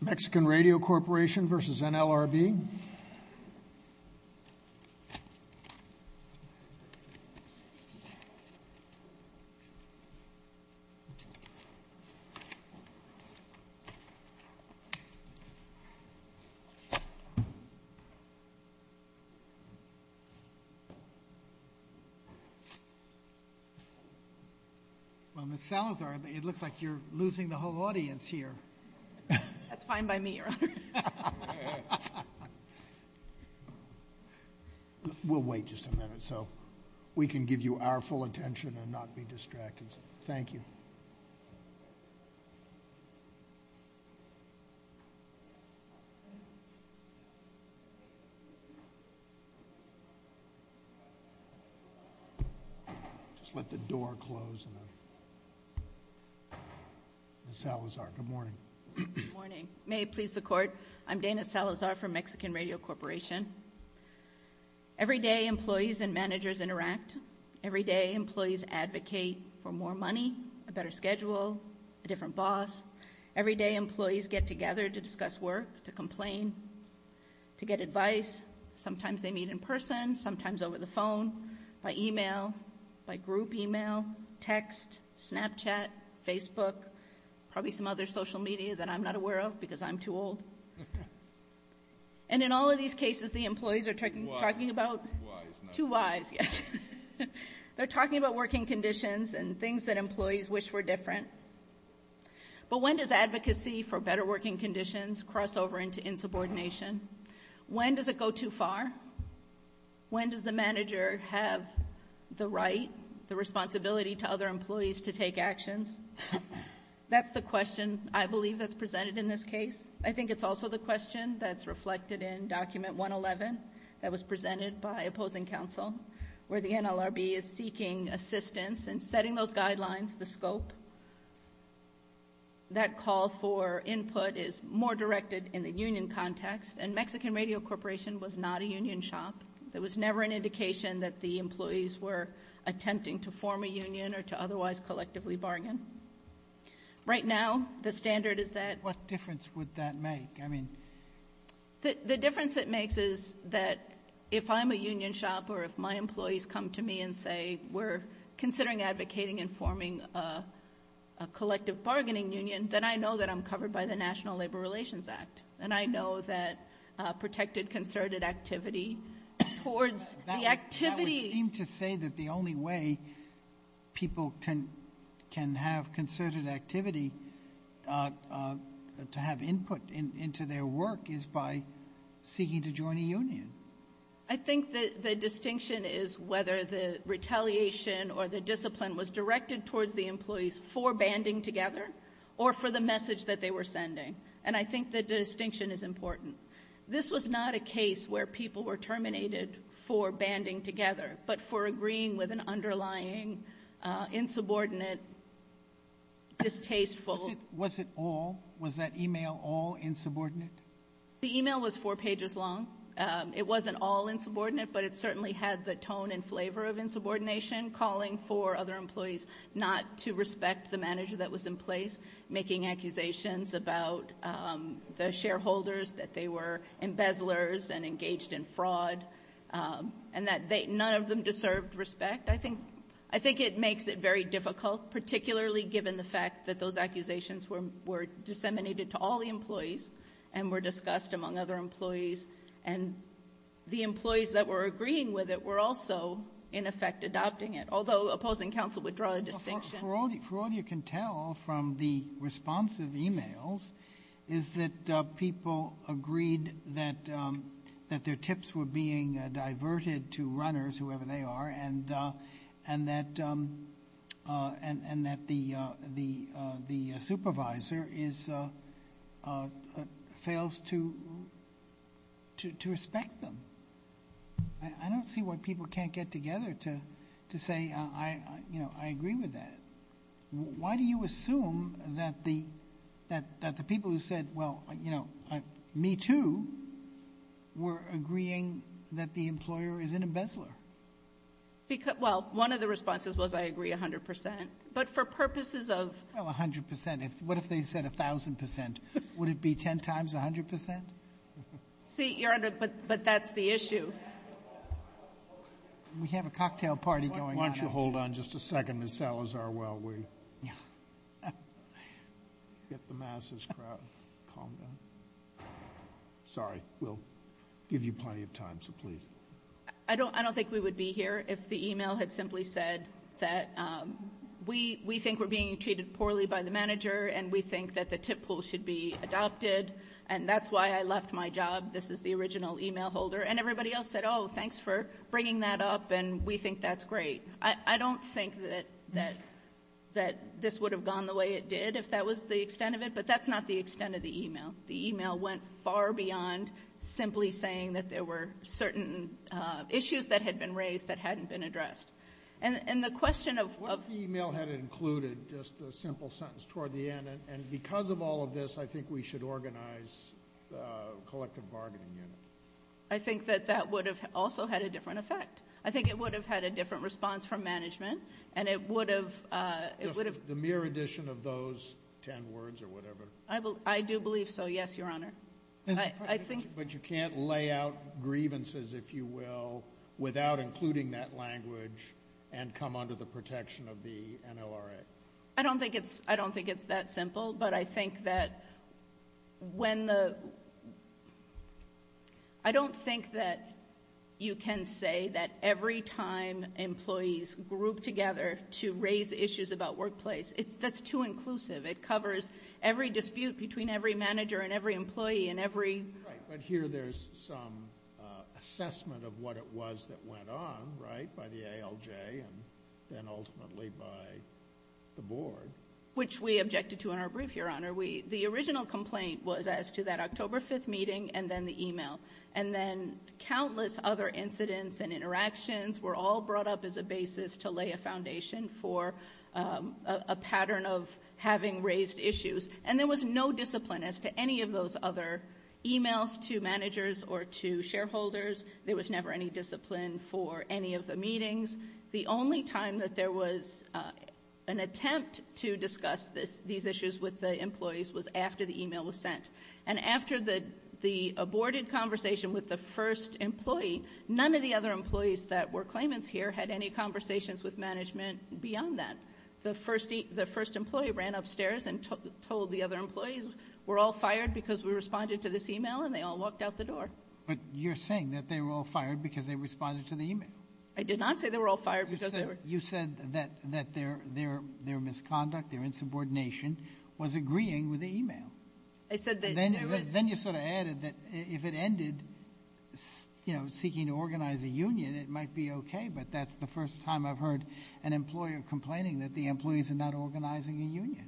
Mexican Radio Corporation v. NLRB. Well, Ms. Salazar, it looks like you're losing the whole audience here. That's fine by me, Your Honor. We'll wait just a minute so we can give you our full attention and not be distracted. Thank you. Just let the door close. Just a minute. Ms. Salazar, good morning. Good morning. May it please the Court, I'm Dana Salazar from Mexican Radio Corporation. Every day employees and managers interact. Every day employees advocate for more money, a better schedule, a different boss. Every day employees get together to discuss work, to complain, to get advice. Sometimes they meet in person, sometimes over the phone, by email, by group email, text, Snapchat, Facebook, probably some other social media that I'm not aware of because I'm too old. And in all of these cases, the employees are talking about two whys. They're talking about working conditions and things that employees wish were different. But when does advocacy for better working conditions cross over into insubordination? When does it go too far? When does the manager have the right, the responsibility to other employees to take actions? That's the question I believe that's presented in this case. I think it's also the question that's reflected in Document 111 that was presented by opposing counsel, where the NLRB is seeking assistance in setting those guidelines, the scope. That call for input is more directed in the union context. And Mexican Radio Corporation was not a union shop. There was never an indication that the employees were attempting to form a union or to otherwise collectively bargain. Right now, the standard is that. What difference would that make? The difference it makes is that if I'm a union shop or if my employees come to me and say, we're considering advocating and forming a collective bargaining union, then I know that I'm covered by the National Labor Relations Act. And I know that protected concerted activity towards the activity. That would seem to say that the only way people can have concerted activity to have input into their work is by seeking to join a union. I think the distinction is whether the retaliation or the discipline was directed towards the employees for banding together or for the message that they were sending. And I think the distinction is important. This was not a case where people were terminated for banding together, but for agreeing with an underlying, insubordinate, distasteful. Was it all? Was that email all insubordinate? The email was four pages long. It wasn't all insubordinate, but it certainly had the tone and flavor of insubordination, calling for other employees not to respect the manager that was in place, making accusations about the shareholders that they were embezzlers and engaged in fraud, and that none of them deserved respect. I think it makes it very difficult, particularly given the fact that those accusations were disseminated to all the employees and were discussed among other employees, and the employees that were agreeing with it were also, in effect, adopting it, although opposing counsel would draw a distinction. For all you can tell from the responsive emails is that people agreed that their tips were being diverted to runners, whoever they are, and that the supervisor fails to respect them. I don't see why people can't get together to say, I agree with that. Why do you assume that the people who said, well, you know, me too, were agreeing that the employer is an embezzler? Well, one of the responses was, I agree 100%. But for purposes of ---- Well, 100%. What if they said 1,000%? Would it be 10 times 100%? But that's the issue. We have a cocktail party going on. Why don't you hold on just a second, Ms. Salazar, while we get the masses to calm down. Sorry. We'll give you plenty of time, so please. I don't think we would be here if the email had simply said that we think we're being treated poorly by the manager and we think that the tip pool should be adopted, and that's why I left my job. This is the original email holder. And everybody else said, oh, thanks for bringing that up and we think that's great. I don't think that this would have gone the way it did if that was the extent of it, but that's not the extent of the email. The email went far beyond simply saying that there were certain issues that had been raised that hadn't been addressed. And the question of ---- What if the email had included just a simple sentence toward the end, and because of all of this I think we should organize a collective bargaining unit? I think that that would have also had a different effect. I think it would have had a different response from management, and it would have ---- Just the mere addition of those ten words or whatever. I do believe so, yes, Your Honor. But you can't lay out grievances, if you will, without including that language and come under the protection of the NLRA. I don't think it's that simple, but I think that when the ---- I don't think that you can say that every time employees group together to raise issues about workplace. That's too inclusive. It covers every dispute between every manager and every employee and every ---- Right, but here there's some assessment of what it was that went on, right, by the ALJ and then ultimately by the board. Which we objected to in our brief, Your Honor. The original complaint was as to that October 5th meeting and then the email, and then countless other incidents and interactions were all brought up as a basis to lay a foundation for a pattern of having raised issues. And there was no discipline as to any of those other emails to managers or to shareholders. There was never any discipline for any of the meetings. The only time that there was an attempt to discuss these issues with the employees was after the email was sent. And after the aborted conversation with the first employee, none of the other employees that were claimants here had any conversations with management beyond that. The first employee ran upstairs and told the other employees, we're all fired because we responded to this email, and they all walked out the door. But you're saying that they were all fired because they responded to the email. I did not say they were all fired because they were. You said that their misconduct, their insubordination was agreeing with the email. I said that there was. Then you sort of added that if it ended, you know, seeking to organize a union, it might be okay, but that's the first time I've heard an employer complaining that the employees are not organizing a union.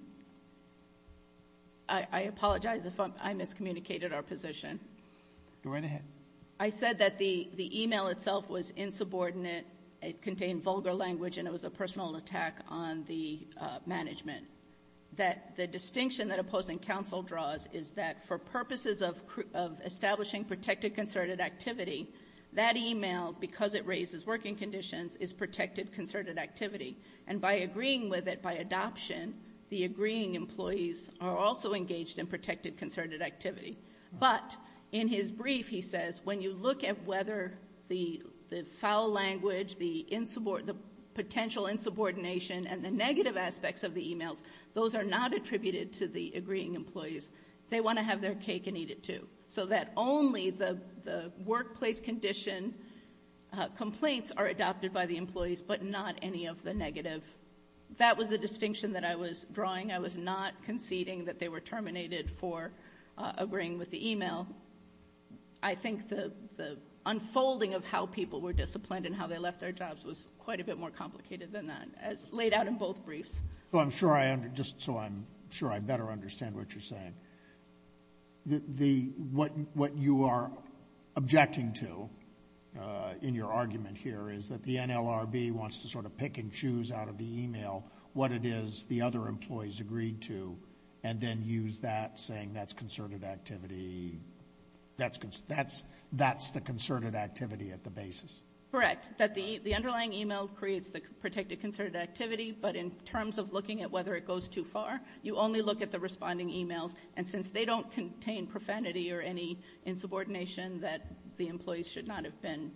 I apologize if I miscommunicated our position. Go right ahead. I said that the email itself was insubordinate, it contained vulgar language, and it was a personal attack on the management, that the distinction that opposing counsel draws is that for purposes of establishing protected concerted activity, that email, because it raises working conditions, is protected concerted activity. And by agreeing with it by adoption, the agreeing employees are also engaged in protected concerted activity. But in his brief, he says, when you look at whether the foul language, the potential insubordination, and the negative aspects of the emails, those are not attributed to the agreeing employees. They want to have their cake and eat it, too, so that only the workplace condition complaints are adopted by the employees, but not any of the negative. That was the distinction that I was drawing. I was not conceding that they were terminated for agreeing with the email. I think the unfolding of how people were disciplined and how they left their jobs was quite a bit more complicated than that, as laid out in both briefs. So I'm sure I better understand what you're saying. What you are objecting to in your argument here is that the NLRB wants to sort of pick and choose out of the email what it is the other employees agreed to and then use that, saying that's concerted activity. That's the concerted activity at the basis. Correct, that the underlying email creates the protected concerted activity, but in terms of looking at whether it goes too far, you only look at the responding emails. And since they don't contain profanity or any insubordination, that the employees should not have been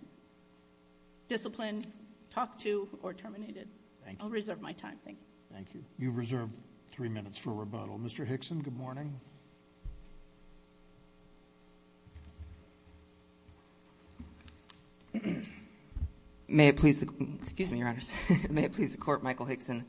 disciplined, talked to, or terminated. I'll reserve my time. Thank you. Thank you. You've reserved three minutes for rebuttal. Mr. Hickson, good morning. May it please the Court, Michael Hickson,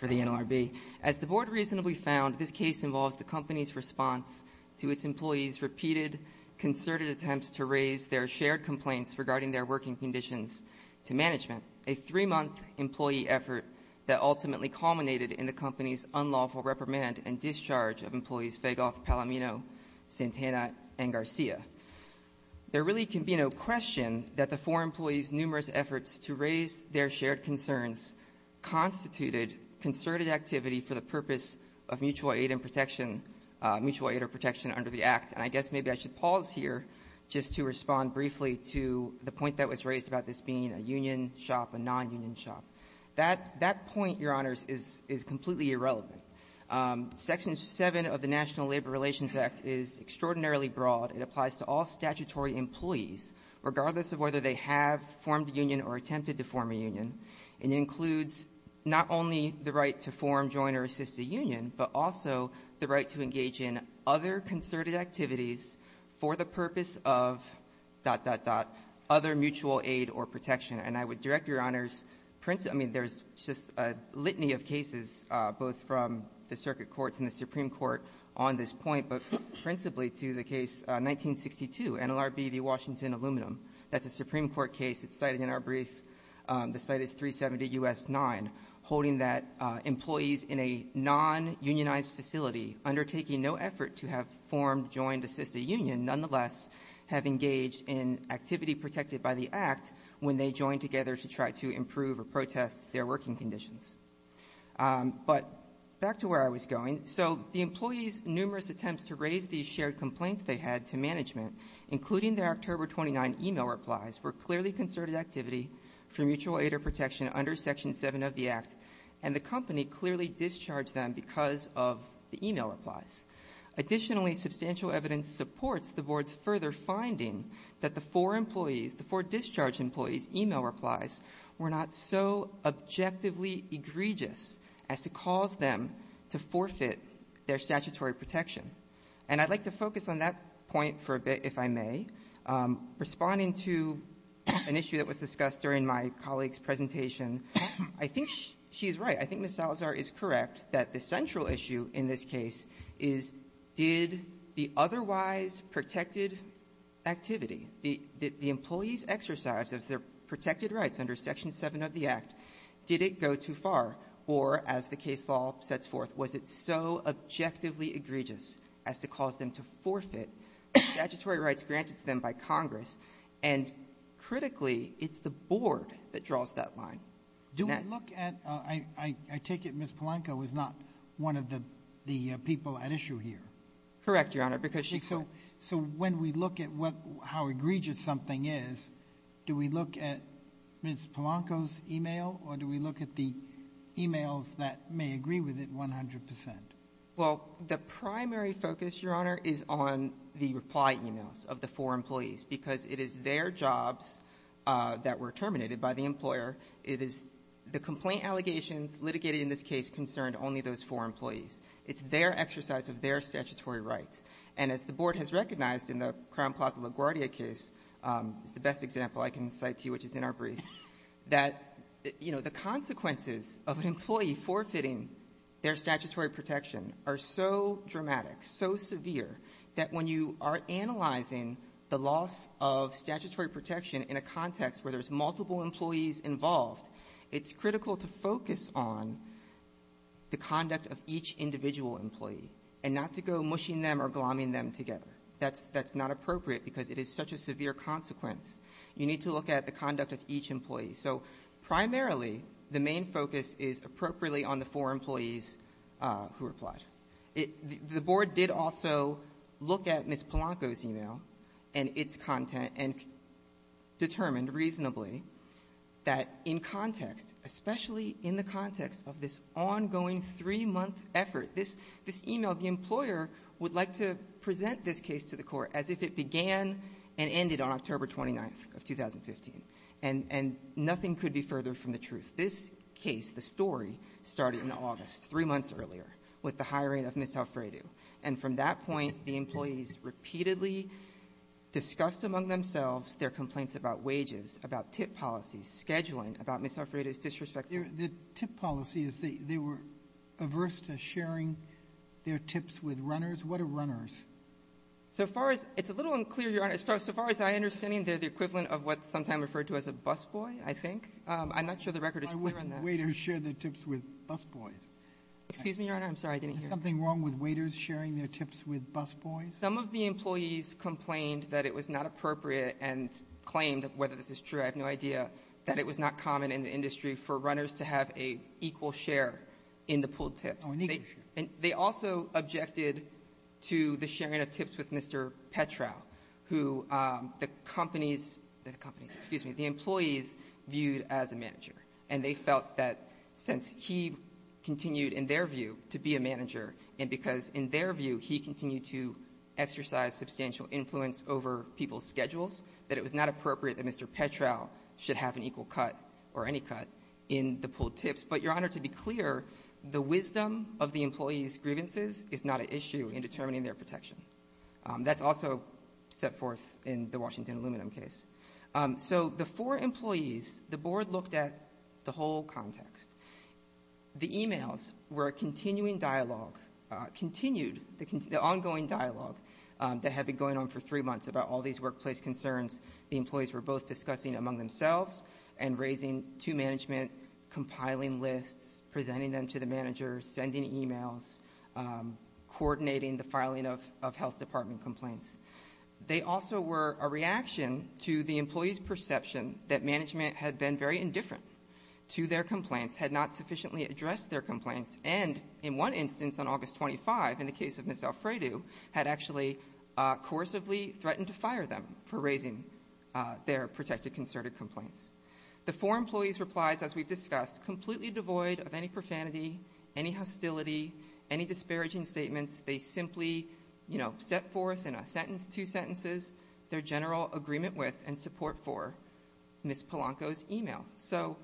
for the NLRB. As the Board reasonably found, this case involves the company's response to its employees' repeated concerted attempts to raise their shared complaints regarding their working conditions to management. A three-month employee effort that ultimately culminated in the company's unlawful reprimand and discharge of employees Fagoth, Palamino, Santana, and Garcia. There really can be no question that the four employees' numerous efforts to raise their shared concerns constituted concerted activity for the purpose of mutual aid and protection, mutual aid or protection under the Act. And I guess maybe I should pause here just to respond briefly to the point that was made about a union shop, a nonunion shop. That point, Your Honors, is completely irrelevant. Section 7 of the National Labor Relations Act is extraordinarily broad. It applies to all statutory employees, regardless of whether they have formed a union or attempted to form a union. And it includes not only the right to form, join, or assist a union, but also the right to engage in other concerted activities for the purpose of, dot, dot, dot, other mutual aid or protection. And I would direct Your Honors' principal – I mean, there's just a litany of cases both from the circuit courts and the Supreme Court on this point, but principally to the case 1962, NLRB v. Washington Aluminum. That's a Supreme Court case. It's cited in our brief. The site is 370 U.S. 9, holding that employees in a nonunionized facility undertaking no effort to have formed, join, or assist a union nonetheless have engaged in activity protected by the Act when they joined together to try to improve or protest their working conditions. But back to where I was going. So the employees' numerous attempts to raise these shared complaints they had to management, including their October 29 email replies, were clearly concerted activity for mutual aid or protection under Section 7 of the Act, and the company clearly discharged them because of the email replies. Additionally, substantial evidence supports the Board's further finding that the four employees, the four discharged employees' email replies were not so objectively egregious as to cause them to forfeit their statutory protection. And I'd like to focus on that point for a bit, if I may. Responding to an issue that was discussed during my colleague's presentation, I think she is right. I think Ms. Salazar is correct that the central issue in this case is, did the otherwise protected activity, the employees' exercise of their protected rights under Section 7 of the Act, did it go too far? Or as the case law sets forth, was it so objectively egregious as to cause them to forfeit statutory rights granted to them by Congress? And critically, it's the Board that draws that line. Do we look at — I take it Ms. Polanco is not one of the people at issue here. Correct, Your Honor, because she's not. So when we look at what — how egregious something is, do we look at Ms. Polanco's email or do we look at the emails that may agree with it 100 percent? Well, the primary focus, Your Honor, is on the reply emails of the four employees because it is their jobs that were terminated by the employer. It is the complaint allegations litigated in this case concerned only those four employees. It's their exercise of their statutory rights. And as the Board has recognized in the Crown Plaza LaGuardia case, it's the best example I can cite to you, which is in our brief, that, you know, the consequences of an employee forfeiting their statutory protection are so dramatic, so severe, that when you are analyzing the loss of statutory protection in a context where there's multiple employees involved, it's critical to focus on the conduct of each individual employee and not to go mushing them or glomming them together. That's not appropriate because it is such a severe consequence. You need to look at the conduct of each employee. So primarily, the main focus is appropriately on the four employees who replied. The Board did also look at Ms. Polanco's email and its content and determined reasonably that in context, especially in the context of this ongoing three-month effort, this email, the employer would like to present this case to the Court as if it began and ended on October 29th of 2015. And nothing could be further from the truth. This case, the story, started in August three months earlier with the hiring of Ms. Alfredo. And from that point, the employees repeatedly discussed among themselves their complaints about wages, about tip policies, scheduling, about Ms. Alfredo's disrespect. Roberts. The tip policies, they were averse to sharing their tips with runners. What are runners? So far as — it's a little unclear, Your Honor. As far as I understand, they're the equivalent of what's sometimes referred to as a busboy, I think. I'm not sure the record is clear on that. But waiters share their tips with busboys. Excuse me, Your Honor. I'm sorry. I didn't hear. Is there something wrong with waiters sharing their tips with busboys? Some of the employees complained that it was not appropriate and claimed, whether this is true, I have no idea, that it was not common in the industry for runners to have an equal share in the pooled tips. Oh, an equal share. And they also objected to the sharing of tips with Mr. Petrow, who the companies — the companies, excuse me — the employees viewed as a manager. And they felt that since he continued, in their view, to be a manager, and because in their view he continued to exercise substantial influence over people's schedules, that it was not appropriate that Mr. Petrow should have an equal cut or any cut in the pooled tips. But, Your Honor, to be clear, the wisdom of the employees' grievances is not an issue in determining their protection. That's also set forth in the Washington Aluminum case. So the four employees, the board looked at the whole context. The emails were a continuing dialogue — continued — the ongoing dialogue that had been going on for three months about all these workplace concerns. The employees were both discussing among themselves and raising to management, compiling lists, presenting them to the manager, sending emails, coordinating the filing of health department complaints. They also were a reaction to the employees' perception that management had been very indifferent to their complaints, had not sufficiently addressed their complaints, and in one instance on August 25, in the case of Ms. Alfredo, had actually coercively threatened to fire them for raising their protected concerted complaints. The four employees' replies, as we've discussed, completely devoid of any profanity, any hostility, any disparaging statements. They simply, you know, set forth in a sentence, two sentences, their general agreement with and support for Ms. Polanco's email. So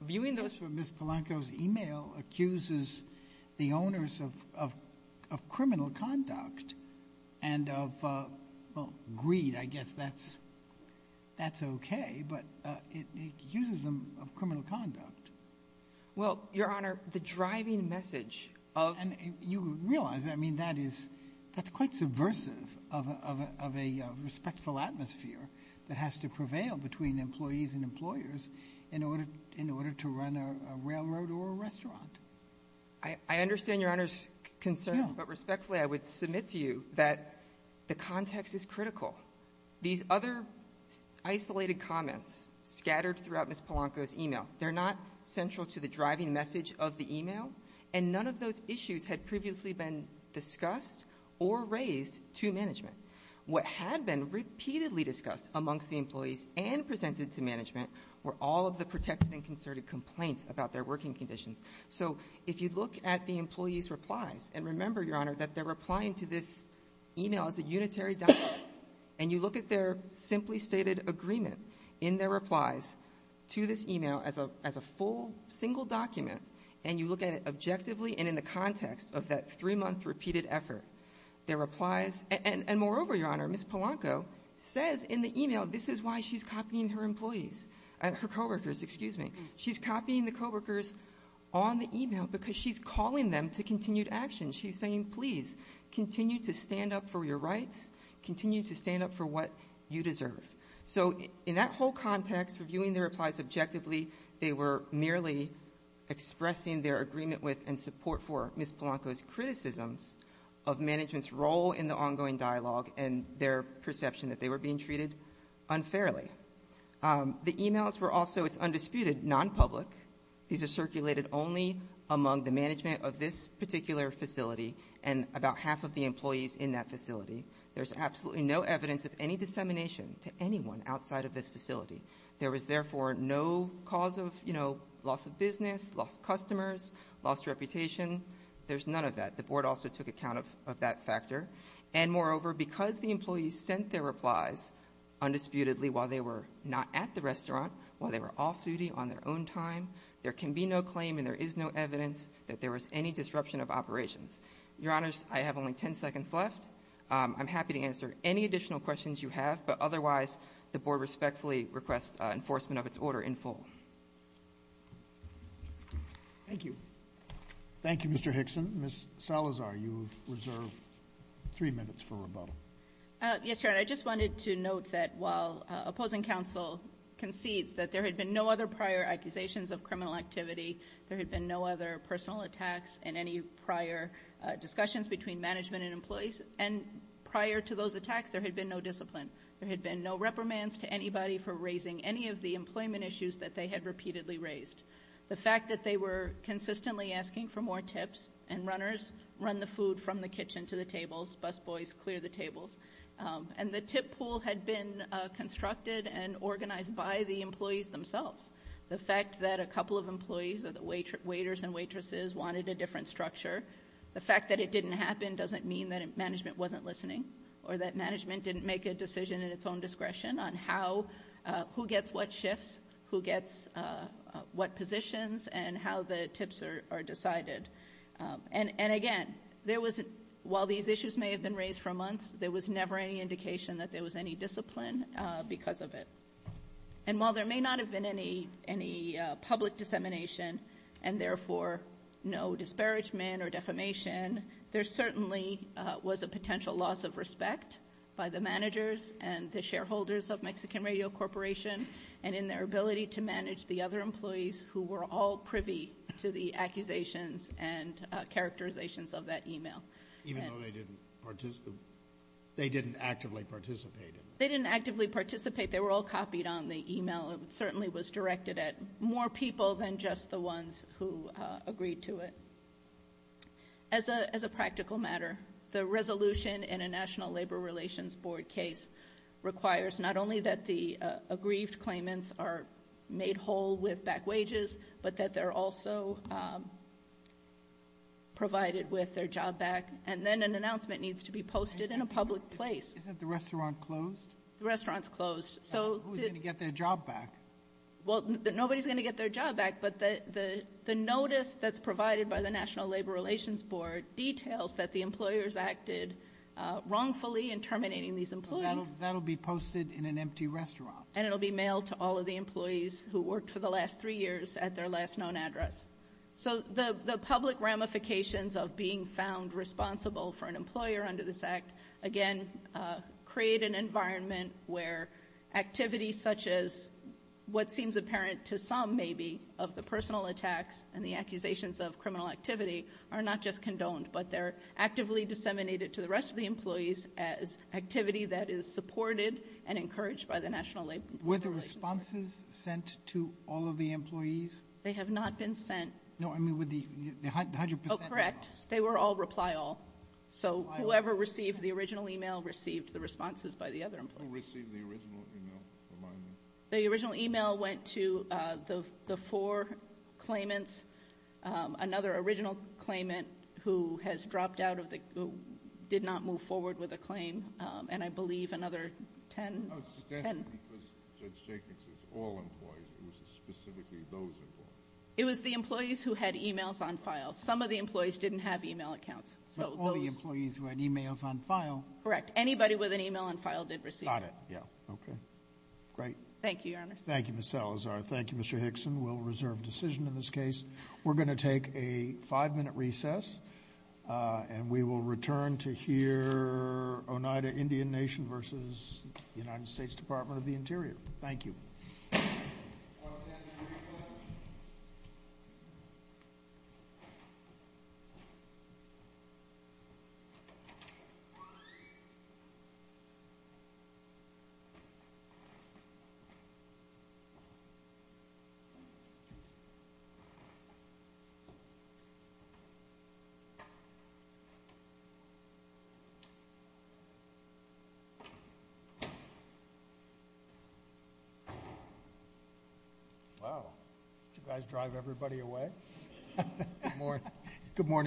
viewing those — JUSTICE SOTOMAYOR — Ms. Polanco's email accuses the owners of — of criminal conduct and of — well, greed, I guess that's — that's okay, but it accuses them of criminal conduct. MS. POLANCO — Well, Your Honor, the driving message of — JUSTICE SOTOMAYOR — And you realize, I mean, that is — that's quite subversive of a — of a respectful atmosphere that has to prevail between employees and employers in order — in order to run a railroad or a restaurant. MS. POLANCO — I understand Your Honor's concerns, but respectfully, I would submit to you that the context is critical. These other isolated comments scattered throughout Ms. Polanco's email, they're not central to the driving message of the email, and none of those issues had previously been discussed or raised to management. What had been repeatedly discussed amongst the employees and presented to management were all of the protected and concerted complaints about their working conditions. So if you look at the employees' replies — and remember, Your Honor, that they're replying to this email as a unitary document — and you look at their simply stated agreement in their replies to this email as a — as a full, single document, and you look at it objectively and in the context of that three-month repeated effort, their replies — and moreover, Your Honor, Ms. Polanco says in the email, this is why she's copying her employees — her co-workers, excuse me. She's copying the co-workers on the email because she's calling them to continued action. She's saying, please, continue to stand up for your rights. Continue to stand up for what you deserve. So in that whole context, reviewing their replies objectively, they were merely expressing their agreement with and support for Ms. Polanco's criticisms of management's role in the ongoing dialogue and their perception that they were being treated unfairly. The emails were also, it's undisputed, nonpublic. These are circulated only among the management of this particular facility and about half of the employees in that facility. There's absolutely no evidence of any dissemination to anyone outside of this facility. There was, therefore, no cause of, you know, loss of business, lost customers, lost reputation. There's none of that. The Board also took account of that factor. And moreover, because the employees sent their replies undisputedly while they were not at the restaurant, while they were off-duty, on their own time, there can be no claim and there is no evidence that there was any disruption of operations. Your Honors, I have only 10 seconds left. I'm happy to answer any additional questions you have, but otherwise, the Board respectfully requests enforcement of its order in full. Thank you. Thank you, Mr. Hickson. Ms. Salazar, you have reserved three minutes for rebuttal. Yes, Your Honor. I just wanted to note that while opposing counsel concedes that there had been no other prior accusations of criminal activity, there had been no other personal attacks in any prior discussions between management and employees, and prior to those attacks, there had been no discipline. There had been no reprimands to anybody for raising any of the employment issues that they had repeatedly raised. The fact that they were consistently asking for more tips and runners run the food from the kitchen to the tables, busboys clear the tables. And the tip pool had been constructed and organized by the employees themselves. The fact that a couple of employees, waiters and waitresses, wanted a different structure, the fact that it didn't happen doesn't mean that management wasn't listening or that management didn't make a decision at its own discretion on who gets what shifts, who gets what positions and how the tips are decided. And again, while these issues may have been raised for months, there was never any indication that there was any discipline because of it. And while there may not have been any public dissemination and therefore no disparagement or defamation, there certainly was a potential loss of respect by the managers and the shareholders of Mexican Radio Corporation and in their ability to manage the other employees who were all privy to the accusations and characterizations of that email. Even though they didn't participate, they didn't actively participate. They didn't actively participate. They were all copied on the email. It certainly was directed at more people than just the ones who agreed to it. As a practical matter, the resolution in a National Labor Relations Board case requires not only that the aggrieved claimants are made whole with back wages, but that they're also provided with their job back. And then an announcement needs to be posted in a public place. Isn't the restaurant closed? The restaurant's closed. Who's going to get their job back? Well, nobody's going to get their job back, but the notice that's provided by the National Labor Relations Board details that the employers acted wrongfully in terminating these employees. That'll be posted in an empty restaurant. And it'll be mailed to all of the employees who worked for the last three years at their last known address. So the public ramifications of being found responsible for an employer under this Act, again, create an environment where activities such as what seems apparent to some, maybe, of the personal attacks and the accusations of criminal activity are not just condoned, but they're actively disseminated to the rest of the employees as activity that is supported and encouraged by the National Labor Relations Board. Were the responses sent to all of the employees? They have not been sent. No, I mean, with the 100 percent that was. Oh, correct. They were all reply all. So whoever received the original email received the responses by the other employees. Who received the original email, remind me? The original email went to the four claimants. Another original claimant who has dropped out of the, who did not move forward with a claim, and I believe another 10. I was just asking because Judge Jacobs says all employees. It was specifically those employees. It was the employees who had emails on file. Some of the employees didn't have email accounts. So those. But all the employees who had emails on file. Correct. Anybody with an email on file did receive. Got it. Yeah. Okay. Great. Thank you, Your Honor. Thank you, Ms. Salazar. Thank you, Mr. Hickson. We'll reserve decision in this case. We're going to take a five-minute recess, and we will return to hear Oneida Indian Nation versus the United States Department of the Interior. Thank you. Wow. Did you guys drive everybody away?